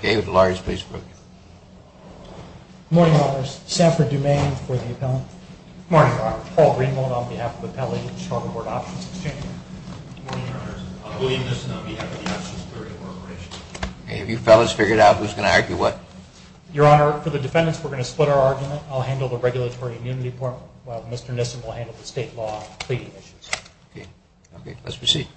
Good morning, Your Honors. Samford Dumaine for the appellant. Good morning, Your Honor. Paul Greenwald on behalf of the Appellate of the Chicago Board Options Exchange. Good morning, Your Honors. William Nissen on behalf of the Options Theory Corporation. Have you fellas figured out who's going to argue what? Your Honor, for the defendants, we're going to split our argument. I'll handle the regulatory immunity point while Mr. Nissen will handle the state law and pleading issues. Okay. Let's proceed.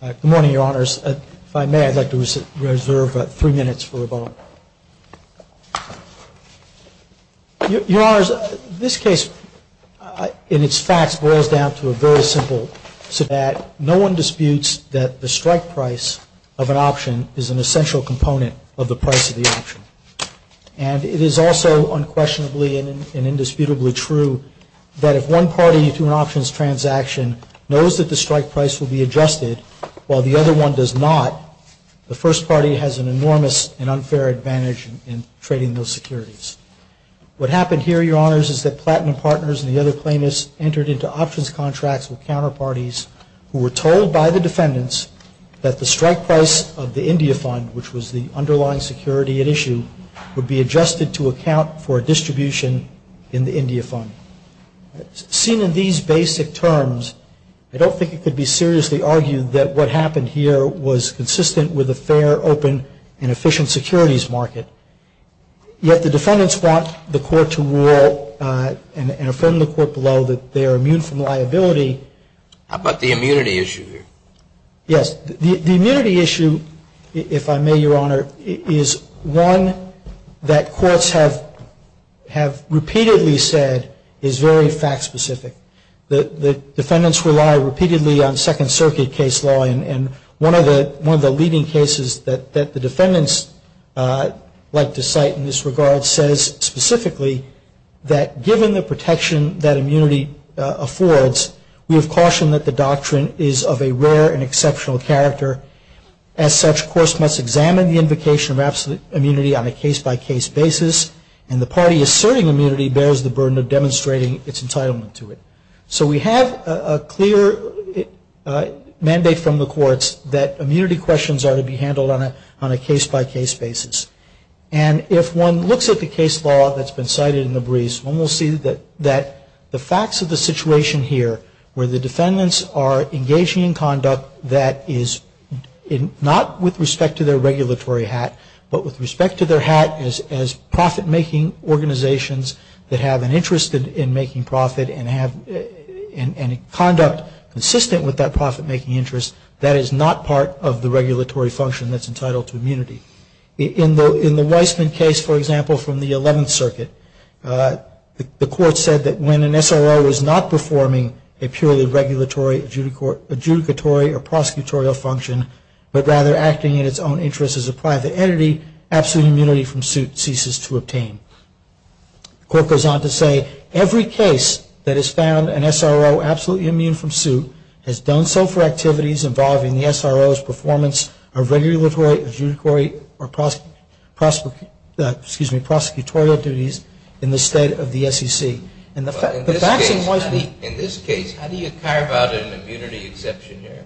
Good morning, Your Honors. If I may, I'd like to reserve three minutes for a vote. Your Honors, this case, in its facts, boils down to a very simple setback. No one disputes that the strike price of an option is an essential component of the price of the option. And it is also unquestionably and indisputably true that if one party to an options transaction knows that the strike price will be adjusted while the other one does not, the first party has an enormous and unfair advantage in trading those securities. What happened here, Your Honors, is that Platinum Partners and the other plaintiffs entered into options contracts with counterparties who were told by the defendants that the strike price of the India Fund, which was the underlying security at issue, would be adjusted to account for a distribution in the India Fund. Seen in these basic terms, I don't think it could be seriously argued that what happened here was consistent with a fair, open, and efficient securities market. Yet the defendants want the court to rule and affirm the court below that they are immune from liability. How about the immunity issue here? Yes. The immunity issue, if I may, Your Honor, is one that courts have repeatedly said is very fact-specific. The defendants rely repeatedly on Second Circuit case law. And one of the leading cases that the defendants like to cite in this regard says specifically that given the protection that immunity affords, we have cautioned that the doctrine is of a rare and exceptional character. As such, courts must examine the invocation of absolute immunity on a case-by-case basis, and the party asserting immunity bears the burden of demonstrating its entitlement to it. So we have a clear mandate from the courts that immunity questions are to be handled on a case-by-case basis. And if one looks at the case law that's been cited in the briefs, one will see that the facts of the situation here where the defendants are engaging in conduct that is not with respect to their regulatory hat, but with respect to their hat as profit-making organizations that have an interest in making profit and conduct consistent with that profit-making interest, that is not part of the regulatory function that's entitled to immunity. In the Weissman case, for example, from the Eleventh Circuit, the court said that when an SRO is not performing a purely regulatory, adjudicatory, or prosecutorial function, but rather acting in its own interest as a private entity, absolute immunity from suit ceases to obtain. The court goes on to say, every case that has found an SRO absolutely immune from suit has done so for activities involving the SRO's performance of regulatory, adjudicatory, or prosecutorial duties in the state of the SEC. In this case, how do you carve out an immunity exception here?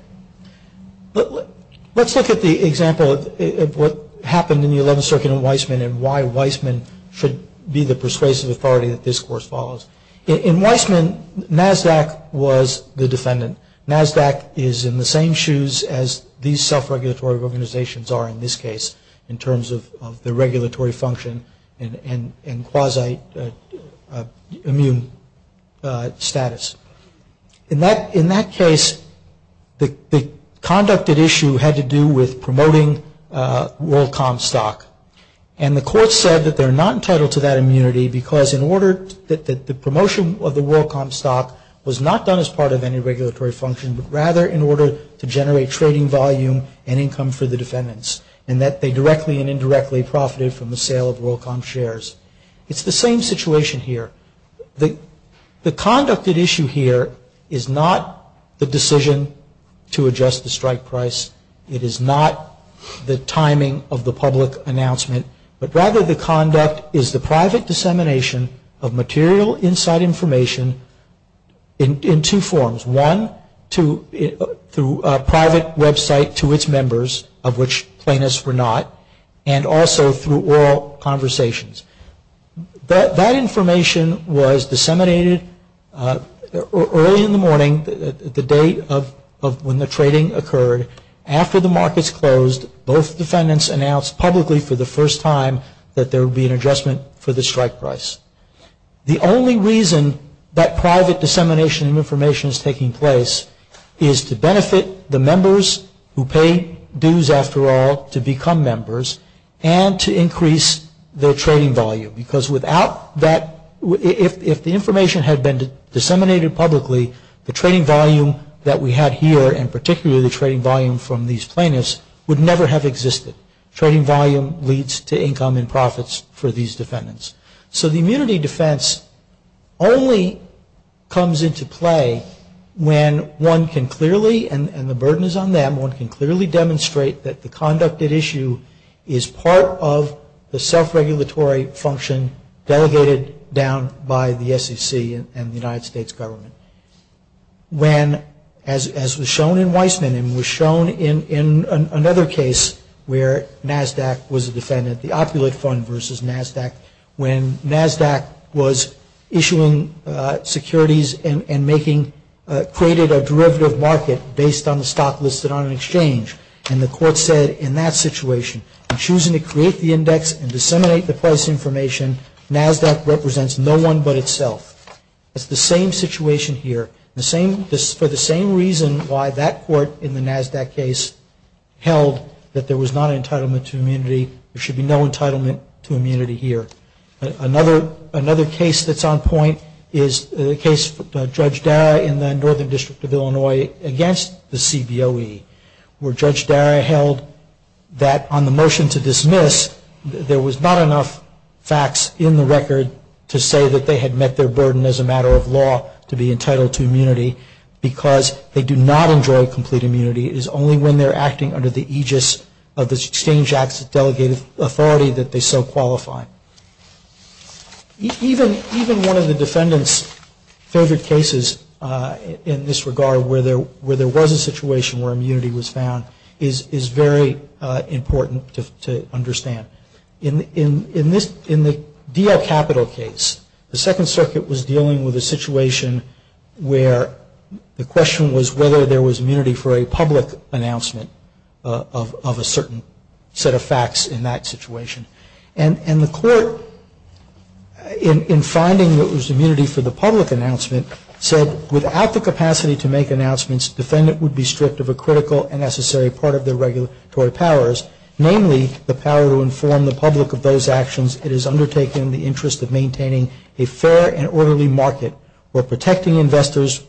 Let's look at the example of what happened in the Eleventh Circuit in Weissman and why Weissman should be the persuasive authority that this Court follows. In Weissman, NASDAQ was the defendant. NASDAQ is in the same shoes as these self-regulatory organizations are in this case in terms of the regulatory function and quasi-immune status. In that case, the conducted issue had to do with promoting WorldCom stock. And the Court said that they're not entitled to that immunity because in order that the promotion of the WorldCom stock was not done as part of any regulatory function, but rather in order to generate trading volume and income for the defendants and that they directly and indirectly profited from the sale of WorldCom shares. It's the same situation here. The conducted issue here is not the decision to adjust the strike price. It is not the timing of the public announcement, but rather the conduct is the private dissemination of material inside information in two forms. One, through a private website to its members, of which plaintiffs were not, and also through oral conversations. That information was disseminated early in the morning, the day when the trading occurred, after the markets closed, both defendants announced publicly for the first time that there would be an adjustment for the strike price. The only reason that private dissemination of information is taking place is to benefit the members, who pay dues after all to become members, and to increase their trading volume. Because without that, if the information had been disseminated publicly, the trading volume that we had here, and particularly the trading volume from these plaintiffs, would never have existed. Trading volume leads to income and profits for these defendants. So the immunity defense only comes into play when one can clearly, and the burden is on them, one can clearly demonstrate that the conducted issue is part of the self-regulatory function delegated down by the SEC and the United States government. When, as was shown in Weissman, and was shown in another case where NASDAQ was a defendant, the opulate fund versus NASDAQ, when NASDAQ was issuing securities and making, created a derivative market based on the stock listed on an exchange, and the court said in that situation, in choosing to create the index and disseminate the price information, NASDAQ represents no one but itself. It's the same situation here. For the same reason why that court in the NASDAQ case held that there was not an entitlement to immunity, there should be no entitlement to immunity here. Another case that's on point is the case of Judge Dara in the Northern District of Illinois against the CBOE, where Judge Dara held that on the motion to dismiss, there was not enough facts in the record to say that they had met their burden as a matter of law to be entitled to immunity because they do not enjoy complete immunity. It is only when they're acting under the aegis of the Exchange Act's delegated authority that they so qualify. Even one of the defendant's favorite cases in this regard, where there was a situation where immunity was found, is very important to understand. In the DL Capital case, the Second Circuit was dealing with a situation where the question was whether there was immunity for a public announcement of a certain set of facts in that situation. And the court, in finding that there was immunity for the public announcement, said without the capacity to make announcements, the defendant would be stripped of a critical and necessary part of their regulatory powers, namely the power to inform the public of those actions it has undertaken in the interest of maintaining a fair and orderly market or protecting investors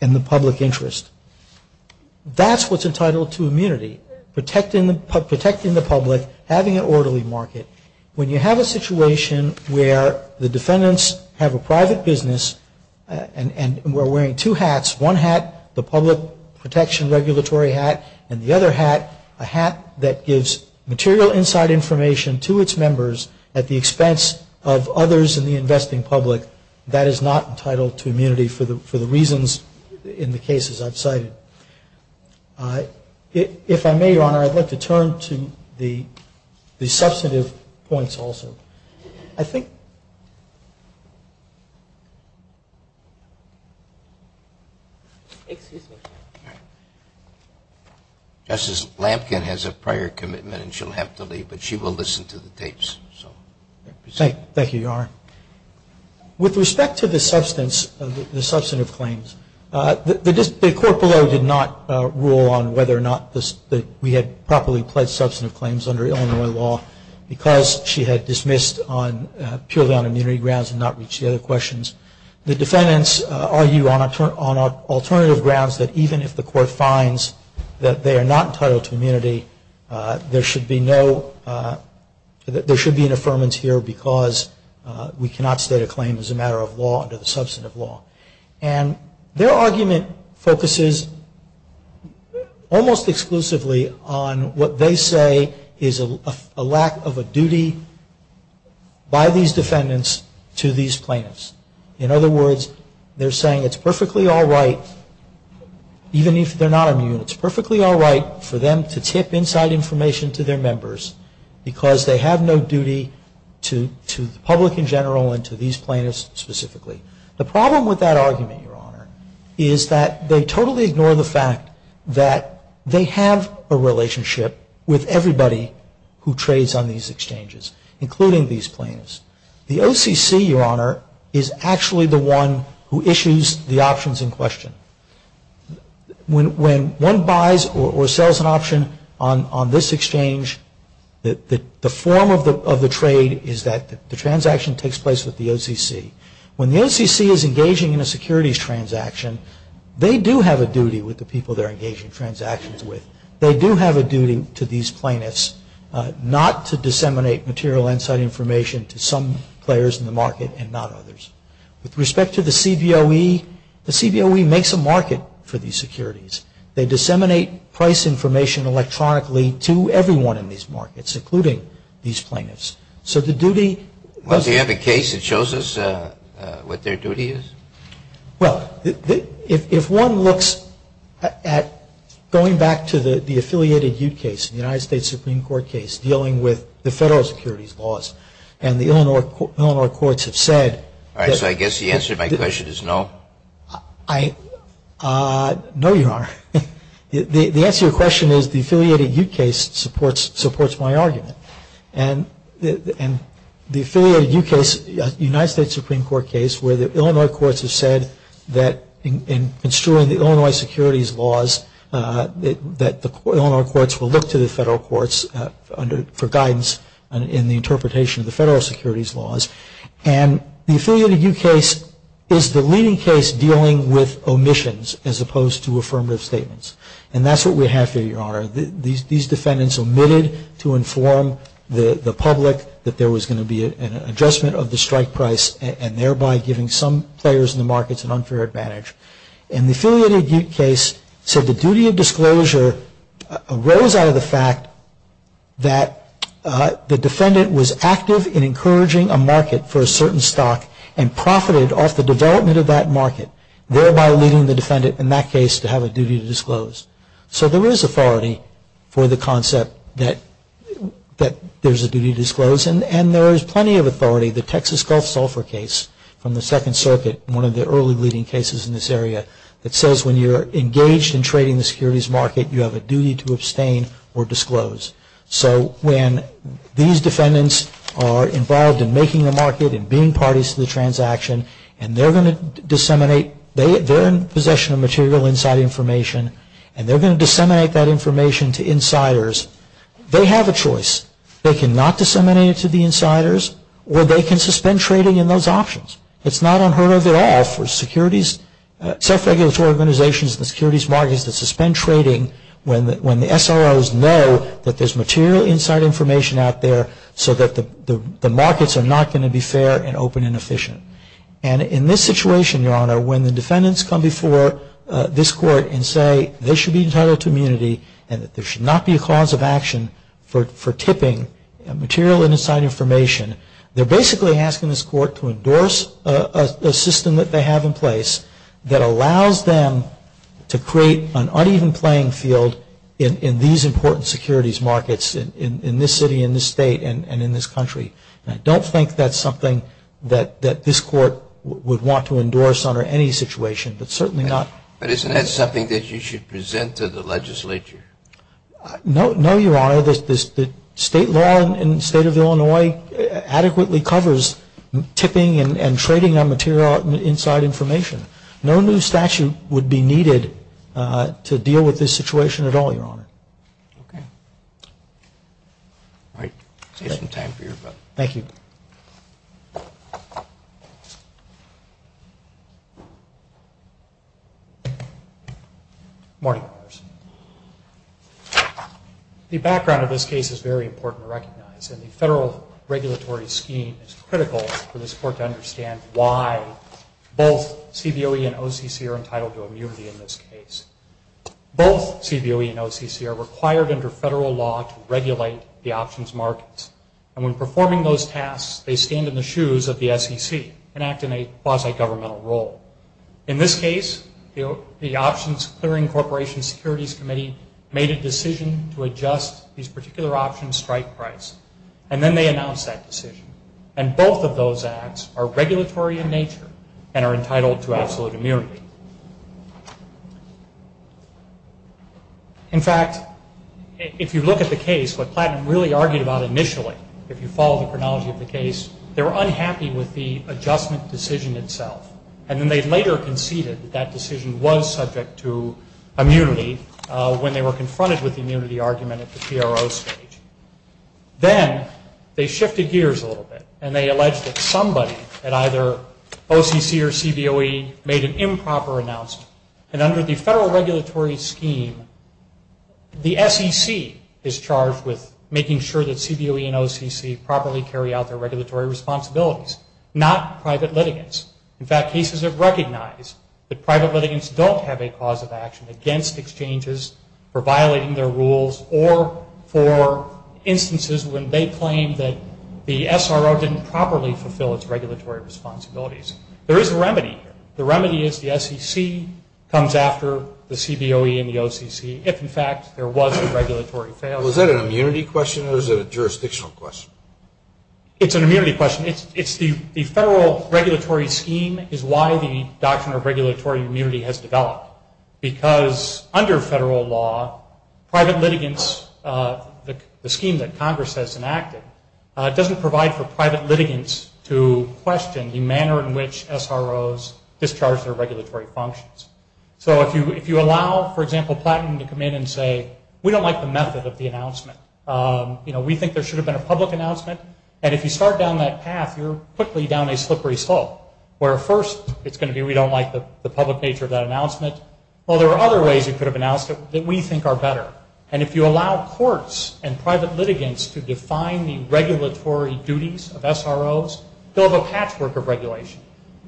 and the public interest. That's what's entitled to immunity, protecting the public, having an orderly market. When you have a situation where the defendants have a private business, and we're wearing two hats, one hat, the public protection regulatory hat, and the other hat, a hat that gives material inside information to its members at the expense of others in the investing public, that is not entitled to immunity for the reasons in the cases I've cited. If I may, Your Honor, I'd like to turn to the substantive points also. Justice Lampkin has a prior commitment and she'll have to leave, but she will listen to the tapes. Thank you, Your Honor. With respect to the substantive claims, the court below did not rule on whether or not we had properly pledged substantive claims under Illinois law because she had dismissed purely on immunity grounds and not reached the other questions. The defendants argue on alternative grounds that even if the court finds that they are not entitled to immunity, there should be an affirmance here because we cannot state a claim as a matter of law under the substantive law. And their argument focuses almost exclusively on what they say is a lack of a duty by these defendants to these plaintiffs. In other words, they're saying it's perfectly all right, even if they're not immune, it's perfectly all right for them to tip inside information to their members because they have no duty to the public in general and to these plaintiffs specifically. The problem with that argument, Your Honor, is that they totally ignore the fact that they have a relationship with everybody who trades on these exchanges, including these plaintiffs. The OCC, Your Honor, is actually the one who issues the options in question. When one buys or sells an option on this exchange, the form of the trade is that the transaction takes place with the OCC. When the OCC is engaging in a securities transaction, they do have a duty with the people they're engaging transactions with. They do have a duty to these plaintiffs not to disseminate material inside information to some players in the market and not others. With respect to the CBOE, the CBOE makes a market for these securities. They disseminate price information electronically to everyone in these markets, including these plaintiffs. So the duty- Well, do you have a case that shows us what their duty is? Well, if one looks at going back to the affiliated Ute case, the United States Supreme Court case, dealing with the federal securities laws, and the Illinois courts have said- All right, so I guess the answer to my question is no? No, Your Honor. The answer to your question is the affiliated Ute case supports my argument. And the affiliated Ute case, United States Supreme Court case, where the Illinois courts have said that in construing the Illinois securities laws that the Illinois courts will look to the federal courts for guidance in the interpretation of the federal securities laws. And the affiliated Ute case is the leading case dealing with omissions as opposed to affirmative statements. And that's what we have here, Your Honor. These defendants omitted to inform the public that there was going to be an adjustment of the strike price and thereby giving some players in the markets an unfair advantage. And the affiliated Ute case said the duty of disclosure arose out of the fact that the defendant was active in encouraging a market for a certain stock and profited off the development of that market, thereby leading the defendant in that case to have a duty to disclose. So there is authority for the concept that there's a duty to disclose. And there is plenty of authority. The Texas Gulf Sulphur case from the Second Circuit, one of the early leading cases in this area, that says when you're engaged in trading the securities market, you have a duty to abstain or disclose. So when these defendants are involved in making the market and being parties to the transaction and they're going to disseminate, they're in possession of material inside information and they're going to disseminate that information to insiders, they have a choice. They can not disseminate it to the insiders or they can suspend trading in those options. It's not unheard of at all for securities, self-regulatory organizations and securities markets to suspend trading when the SROs know that there's material inside information out there so that the markets are not going to be fair and open and efficient. And in this situation, Your Honor, when the defendants come before this Court and say they should be entitled to immunity and that there should not be a cause of action for tipping material inside information, they're basically asking this Court to endorse a system that they have in place that allows them to create an uneven playing field in these important securities markets in this city, in this state, and in this country. And I don't think that's something that this Court would want to endorse under any situation, but certainly not. But isn't that something that you should present to the legislature? No, Your Honor. The state law in the state of Illinois adequately covers tipping and trading of material inside information. No new statute would be needed to deal with this situation at all, Your Honor. Okay. All right. I'll save some time for your vote. Thank you. Good morning. The background of this case is very important to recognize, and the federal regulatory scheme is critical for this Court to understand why both CBOE and OCC are entitled to immunity in this case. Both CBOE and OCC are required under federal law to regulate the options markets, and when performing those tasks, they stand in the shoes of the SEC and act in a quasi-governmental role. In this case, the Options Clearing Corporation Securities Committee made a decision to adjust these particular options strike price, and then they announced that decision. And both of those acts are regulatory in nature and are entitled to absolute immunity. In fact, if you look at the case, what Platten really argued about initially, if you follow the chronology of the case, they were unhappy with the adjustment decision itself, and then they later conceded that that decision was subject to immunity when they were confronted with the immunity argument at the PRO stage. Then they shifted gears a little bit, and they alleged that somebody at either OCC or CBOE made an improper announcement, and under the federal regulatory scheme, the SEC is charged with making sure that CBOE and OCC properly carry out their regulatory responsibilities, not private litigants. In fact, cases have recognized that private litigants don't have a cause of action against exchanges for violating their rules or for instances when they claim that the SRO didn't properly fulfill its regulatory responsibilities. There is a remedy here. The remedy is the SEC comes after the CBOE and the OCC if, in fact, there was a regulatory failure. Was that an immunity question or is it a jurisdictional question? It's an immunity question. It's the federal regulatory scheme is why the Doctrine of Regulatory Immunity has developed, because under federal law, private litigants, the scheme that Congress has enacted, doesn't provide for private litigants to question the manner in which SROs discharge their regulatory functions. So if you allow, for example, Platinum to come in and say, we don't like the method of the announcement, we think there should have been a public announcement, and if you start down that path, you're quickly down a slippery slope, where first it's going to be we don't like the public nature of that announcement. Well, there are other ways you could have announced it that we think are better. And if you allow courts and private litigants to define the regulatory duties of SROs, they'll have a patchwork of regulation.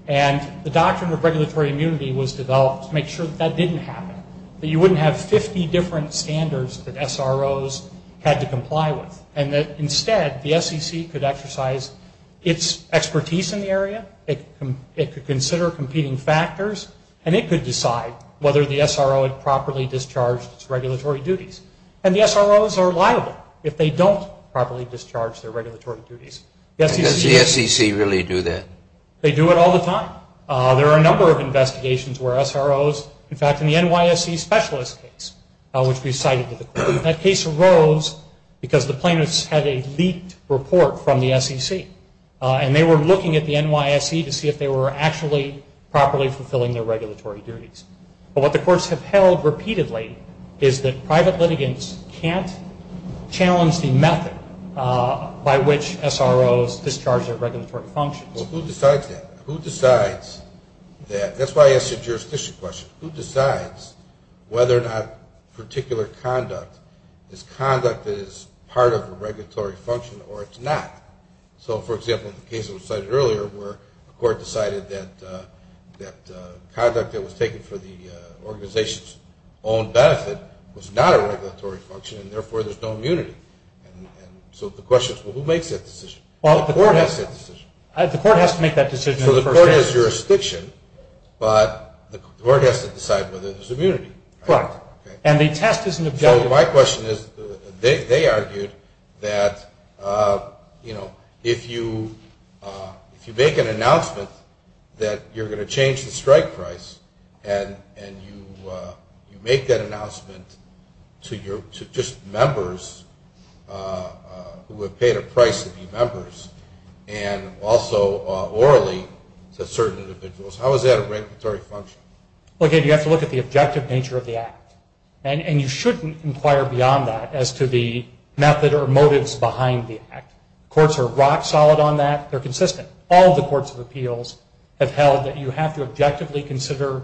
And the Doctrine of Regulatory Immunity was developed to make sure that that didn't happen, that you wouldn't have 50 different standards that SROs had to comply with, and that instead the SEC could exercise its expertise in the area, it could consider competing factors, and it could decide whether the SRO had properly discharged its regulatory duties. And the SROs are liable if they don't properly discharge their regulatory duties. Does the SEC really do that? They do it all the time. There are a number of investigations where SROs, in fact, in the NYSE specialist case, which we cited, that case arose because the plaintiffs had a leaked report from the SEC, and they were looking at the NYSE to see if they were actually properly fulfilling their regulatory duties. But what the courts have held repeatedly is that private litigants can't challenge the method by which SROs discharge their regulatory functions. Well, who decides that? Who decides that? That's why I asked the jurisdiction question. Who decides whether or not particular conduct is conduct that is part of a regulatory function or it's not? So, for example, in the case that was cited earlier, where a court decided that conduct that was taken for the organization's own benefit was not a regulatory function, and therefore there's no immunity. And so the question is, well, who makes that decision? Well, the court has to make that decision. The court has to make that decision in the first place. But the court has to decide whether there's immunity. Right. And the test is an objective. So my question is, they argued that, you know, if you make an announcement that you're going to change the strike price and you make that announcement to just members who have paid a price to be members, and also orally to certain individuals, how is that a regulatory function? Well, again, you have to look at the objective nature of the act. And you shouldn't inquire beyond that as to the method or motives behind the act. Courts are rock solid on that. They're consistent. All the courts of appeals have held that you have to objectively consider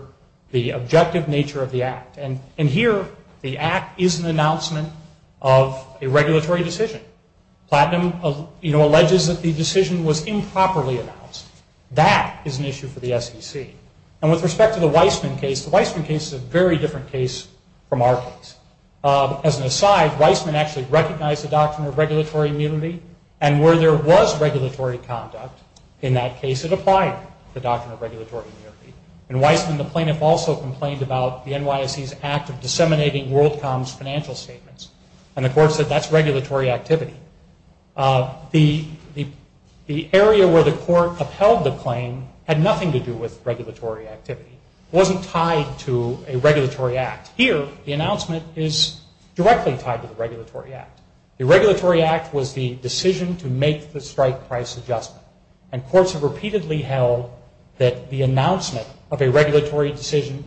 the objective nature of the act. And here the act is an announcement of a regulatory decision. Platinum, you know, alleges that the decision was improperly announced. That is an issue for the SEC. And with respect to the Weissman case, the Weissman case is a very different case from our case. As an aside, Weissman actually recognized the doctrine of regulatory immunity, and where there was regulatory conduct in that case, it applied the doctrine of regulatory immunity. In Weissman, the plaintiff also complained about the NYSE's act of disseminating WorldCom's financial statements. And the court said that's regulatory activity. The area where the court upheld the claim had nothing to do with regulatory activity. It wasn't tied to a regulatory act. Here the announcement is directly tied to the regulatory act. The regulatory act was the decision to make the strike price adjustment. And courts have repeatedly held that the announcement of a regulatory decision,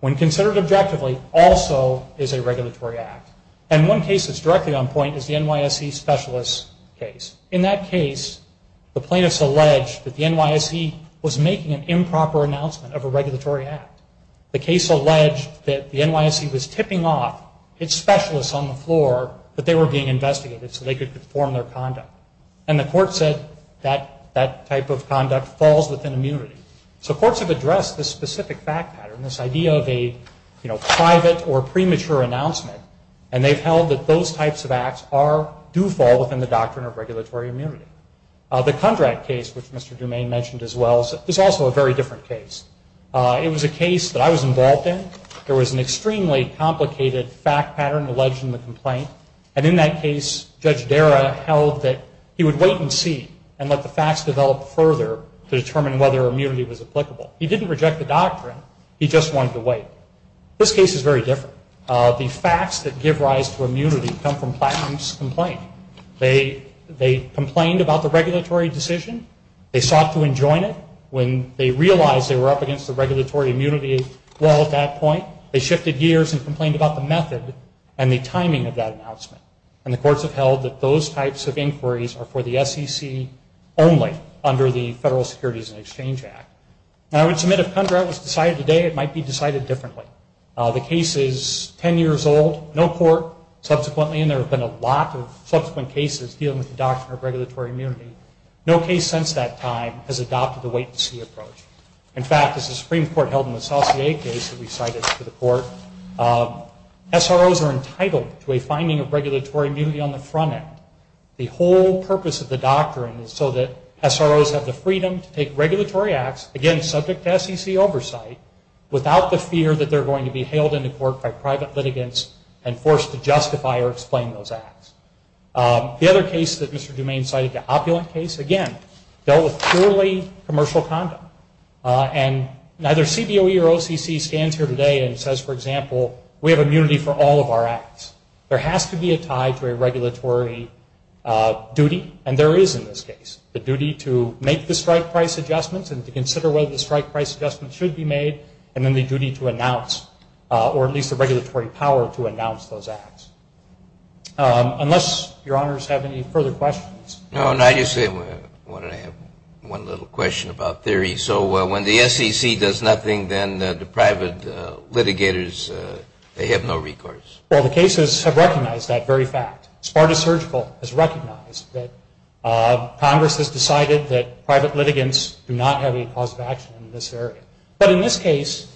when considered objectively, also is a regulatory act. And one case that's directly on point is the NYSE specialist case. In that case, the plaintiffs allege that the NYSE was making an improper announcement of a regulatory act. The case alleged that the NYSE was tipping off its specialists on the floor that they were being investigated so they could conform their conduct. And the court said that that type of conduct falls within immunity. So courts have addressed this specific fact pattern, this idea of a private or premature announcement, and they've held that those types of acts do fall within the doctrine of regulatory immunity. The Kundrat case, which Mr. DuMain mentioned as well, is also a very different case. It was a case that I was involved in. There was an extremely complicated fact pattern alleged in the complaint. And in that case, Judge Dara held that he would wait and see and let the facts develop further to determine whether immunity was applicable. He didn't reject the doctrine. He just wanted to wait. This case is very different. The facts that give rise to immunity come from Plattman's complaint. They complained about the regulatory decision. They sought to enjoin it. When they realized they were up against the regulatory immunity wall at that point, they shifted gears and complained about the method and the timing of that announcement. And the courts have held that those types of inquiries are for the SEC only under the Federal Securities and Exchange Act. And I would submit if Kundrat was decided today, it might be decided differently. The case is 10 years old, no court. Subsequently, and there have been a lot of subsequent cases dealing with the doctrine of regulatory immunity, no case since that time has adopted the wait-and-see approach. In fact, as the Supreme Court held in the Saucier case that we cited to the court, SROs are entitled to a finding of regulatory immunity on the front end. The whole purpose of the doctrine is so that SROs have the freedom to take regulatory acts, again, subject to SEC oversight, without the fear that they're going to be hailed into court by private litigants and forced to justify or explain those acts. The other case that Mr. Dumaine cited, the Opulent case, again, dealt with purely commercial conduct. And neither CBOE or OCC stands here today and says, for example, we have immunity for all of our acts. There has to be a tie to a regulatory duty, and there is in this case. The duty to make the strike price adjustments and to consider whether the strike price adjustments should be made, and then the duty to announce or at least the regulatory power to announce those acts. Unless your honors have any further questions. No, and I just have one little question about theory. So when the SEC does nothing, then the private litigators, they have no recourse? Well, the cases have recognized that very fact. Sparta Surgical has recognized that Congress has decided that private litigants do not have any cause of action in this area. But in this case,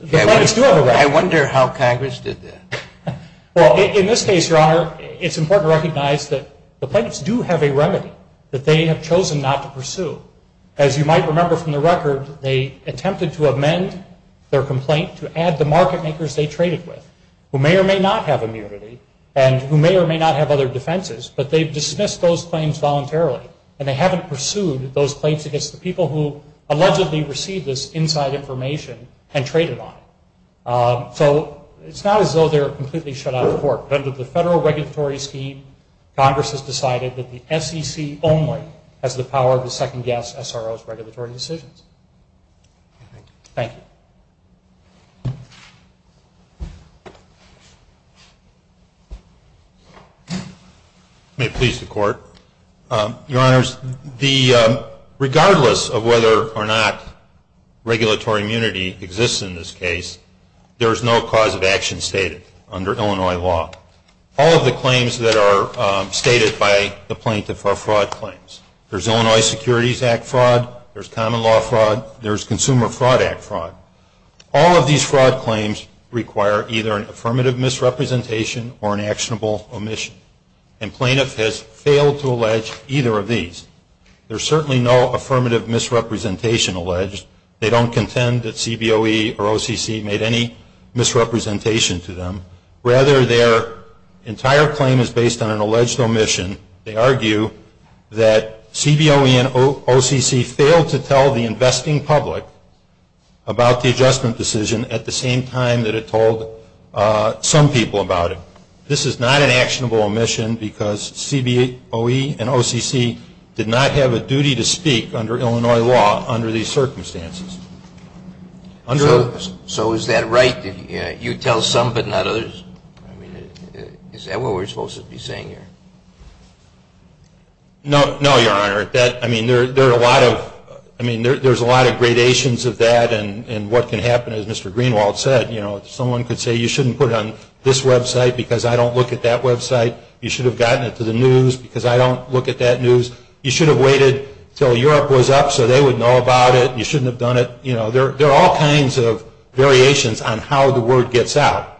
the plaintiffs do have a right. I wonder how Congress did that. Well, in this case, your honor, it's important to recognize that the plaintiffs do have a remedy that they have chosen not to pursue. As you might remember from the record, they attempted to amend their complaint to add the market makers they traded with, who may or may not have immunity, and who may or may not have other defenses, but they've dismissed those claims voluntarily, and they haven't pursued those claims against the people who allegedly received this inside information and traded on it. So it's not as though they're completely shut out of court. Under the federal regulatory scheme, Congress has decided that the SEC only has the power to second-guess SRO's regulatory decisions. Thank you. May it please the court. Your honors, regardless of whether or not regulatory immunity exists in this case, there is no cause of action stated under Illinois law. All of the claims that are stated by the plaintiff are fraud claims. There's Illinois Securities Act fraud, there's common law fraud, there's Consumer Fraud Act fraud. All of these fraud claims require either an affirmative misrepresentation or an actionable omission. And plaintiff has failed to allege either of these. There's certainly no affirmative misrepresentation alleged. They don't contend that CBOE or OCC made any misrepresentation to them. Rather, their entire claim is based on an alleged omission. They argue that CBOE and OCC failed to tell the investing public about the adjustment decision at the same time that it told some people about it. This is not an actionable omission because CBOE and OCC did not have a duty to speak under Illinois law under these circumstances. So is that right? You tell some but not others? Is that what we're supposed to be saying here? No, your honor. I mean, there's a lot of gradations of that and what can happen, as Mr. Greenwald said. Someone could say you shouldn't put it on this website because I don't look at that website. You should have gotten it to the news because I don't look at that news. You should have waited until Europe was up so they would know about it. You shouldn't have done it. There are all kinds of variations on how the word gets out.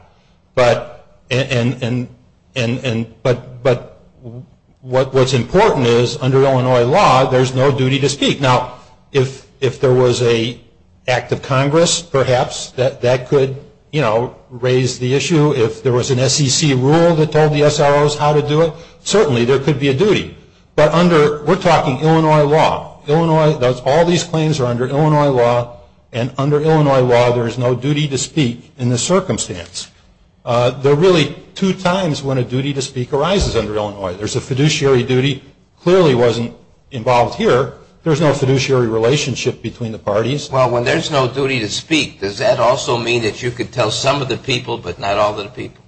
But what's important is under Illinois law, there's no duty to speak. Now, if there was an act of Congress, perhaps, that could raise the issue. If there was an SEC rule that told the SROs how to do it, certainly there could be a duty. But we're talking Illinois law. All these claims are under Illinois law, and under Illinois law there is no duty to speak in this circumstance. There are really two times when a duty to speak arises under Illinois. There's a fiduciary duty. It clearly wasn't involved here. There's no fiduciary relationship between the parties. Well, when there's no duty to speak, does that also mean that you could tell some of the people but not all of the people?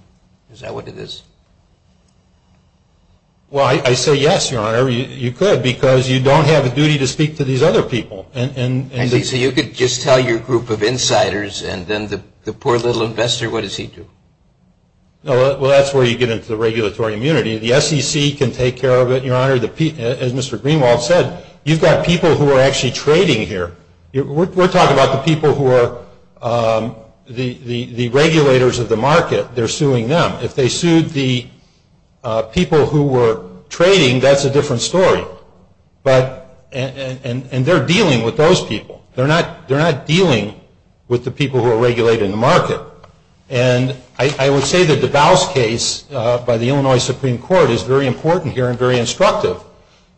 Is that what it is? Well, I say yes, Your Honor. You could because you don't have a duty to speak to these other people. I see. So you could just tell your group of insiders and then the poor little investor, what does he do? Well, that's where you get into the regulatory immunity. The SEC can take care of it, Your Honor. As Mr. Greenwald said, you've got people who are actually trading here. We're talking about the people who are the regulators of the market. They're suing them. If they sued the people who were trading, that's a different story. And they're dealing with those people. They're not dealing with the people who are regulating the market. And I would say the DeBose case by the Illinois Supreme Court is very important here and very instructive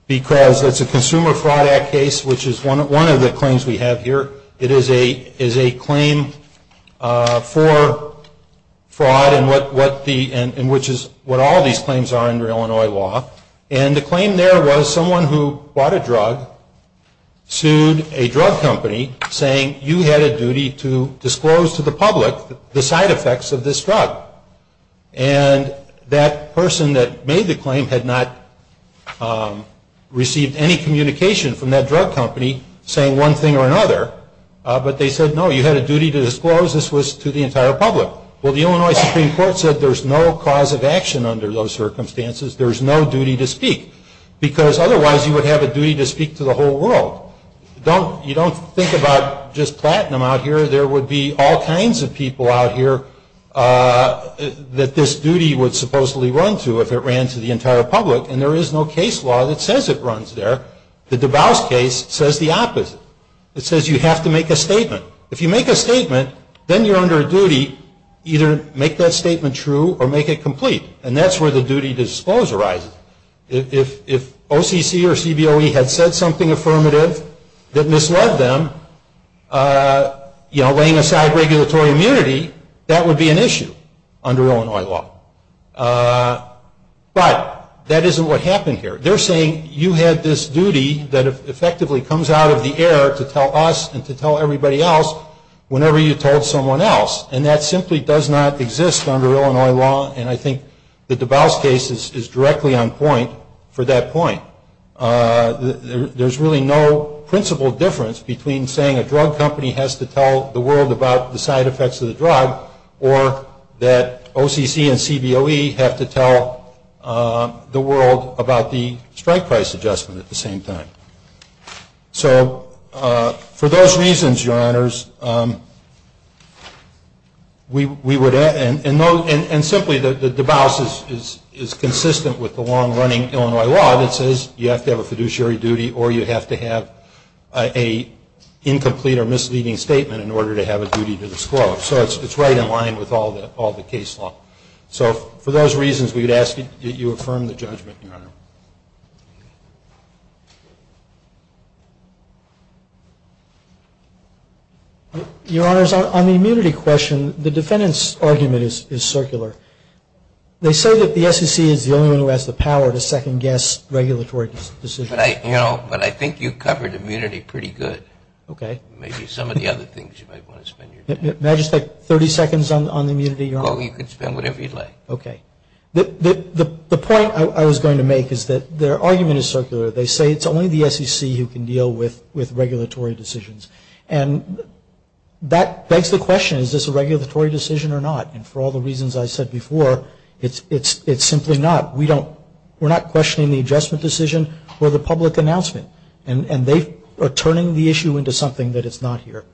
because it's a Consumer Fraud Act case, which is one of the claims we have here. It is a claim for fraud in which is what all these claims are under Illinois law. And the claim there was someone who bought a drug sued a drug company saying, you had a duty to disclose to the public the side effects of this drug. And that person that made the claim had not received any communication from that drug company saying one thing or another. But they said, no, you had a duty to disclose this was to the entire public. Well, the Illinois Supreme Court said there's no cause of action under those circumstances. There's no duty to speak because otherwise you would have a duty to speak to the whole world. You don't think about just platinum out here. There would be all kinds of people out here that this duty would supposedly run to if it ran to the entire public. And there is no case law that says it runs there. The DeBose case says the opposite. It says you have to make a statement. If you make a statement, then you're under a duty either to make that statement true or make it complete. And that's where the duty to disclose arises. If OCC or CBOE had said something affirmative that misled them, you know, laying aside regulatory immunity, that would be an issue under Illinois law. But that isn't what happened here. They're saying you had this duty that effectively comes out of the air to tell us and to tell everybody else whenever you told someone else. And that simply does not exist under Illinois law. And I think the DeBose case is directly on point for that point. There's really no principle difference between saying a drug company has to tell the world about the side effects of the drug or that OCC and CBOE have to tell the world about the strike price adjustment at the same time. So for those reasons, Your Honors, we would, and simply the DeBose is consistent with the long-running Illinois law that says you have to have a fiduciary duty or you have to have an incomplete or misleading statement in order to have a duty to disclose. So it's right in line with all the case law. So for those reasons, we would ask that you affirm the judgment, Your Honor. Your Honors, on the immunity question, the defendant's argument is circular. They say that the SEC is the only one who has the power to second-guess regulatory decisions. But I think you covered immunity pretty good. Okay. Maybe some of the other things you might want to spend your time on. May I just take 30 seconds on the immunity, Your Honor? Okay. The point I was going to make is that their argument is circular. They say it's only the SEC who can deal with regulatory decisions. And that begs the question, is this a regulatory decision or not? And for all the reasons I said before, it's simply not. We're not questioning the adjustment decision or the public announcement. And they are turning the issue into something that is not here.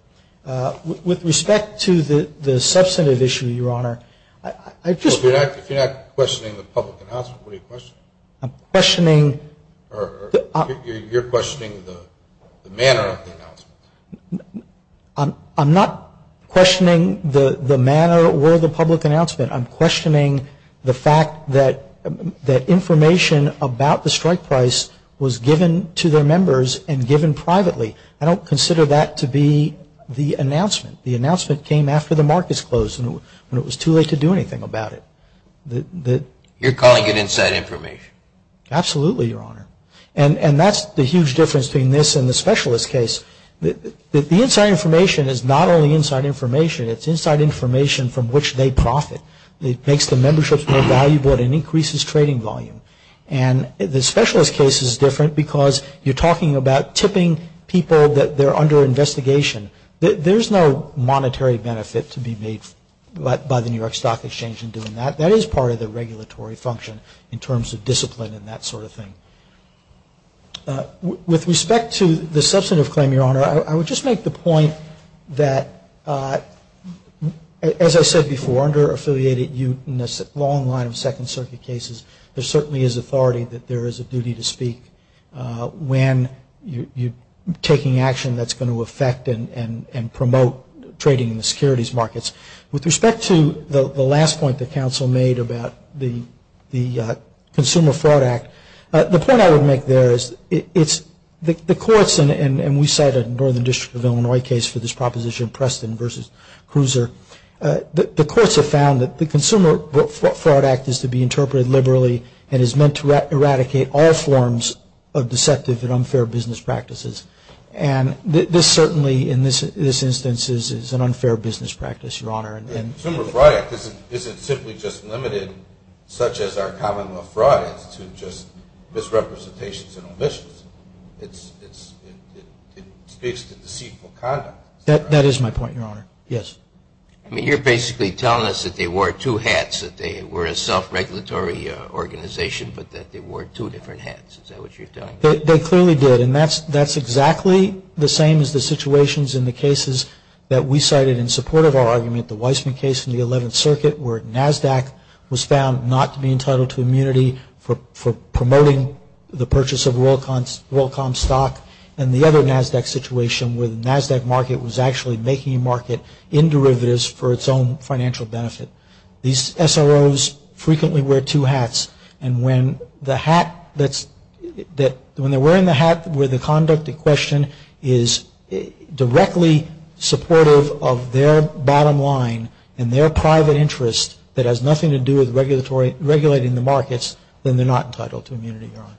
With respect to the substantive issue, Your Honor, I just. If you're not questioning the public announcement, what are you questioning? I'm questioning. You're questioning the manner of the announcement. I'm not questioning the manner or the public announcement. I'm questioning the fact that information about the strike price was given to their members and given privately. I don't consider that to be the announcement. The announcement came after the markets closed and it was too late to do anything about it. You're calling it inside information. Absolutely, Your Honor. And that's the huge difference between this and the specialist case. The inside information is not only inside information. It's inside information from which they profit. It makes the memberships more valuable and it increases trading volume. And the specialist case is different because you're talking about tipping people that they're under investigation. There's no monetary benefit to be made by the New York Stock Exchange in doing that. That is part of the regulatory function in terms of discipline and that sort of thing. With respect to the substantive claim, Your Honor, I would just make the point that, as I said before, in a long line of Second Circuit cases, there certainly is authority that there is a duty to speak when you're taking action that's going to affect and promote trading in the securities markets. With respect to the last point that counsel made about the Consumer Fraud Act, the point I would make there is the courts, and we cited the Northern District of Illinois case for this proposition, Preston v. Cruiser. The courts have found that the Consumer Fraud Act is to be interpreted liberally and is meant to eradicate all forms of deceptive and unfair business practices. And this certainly, in this instance, is an unfair business practice, Your Honor. The Consumer Fraud Act isn't simply just limited, such as our column of fraud, it's just misrepresentations and omissions. It speaks to deceitful conduct. That is my point, Your Honor, yes. I mean, you're basically telling us that they wore two hats, that they were a self-regulatory organization, but that they wore two different hats. Is that what you're telling me? They clearly did, and that's exactly the same as the situations in the cases that we cited in support of our argument, the Weissman case in the Eleventh Circuit, where NASDAQ was found not to be entitled to immunity for promoting the purchase of WorldCom stock, and the other NASDAQ situation where the NASDAQ market was actually making a market in derivatives for its own financial benefit. These SROs frequently wear two hats, and when they're wearing the hat where the conduct in question is directly supportive of their bottom line and their private interest that has nothing to do with regulating the markets, then they're not entitled to immunity, Your Honor.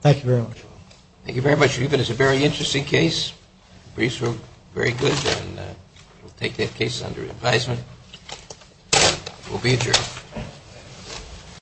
Thank you very much. Thank you very much, Ruben. It's a very interesting case. Briefs were very good, and we'll take that case under advisement. We'll be adjourned.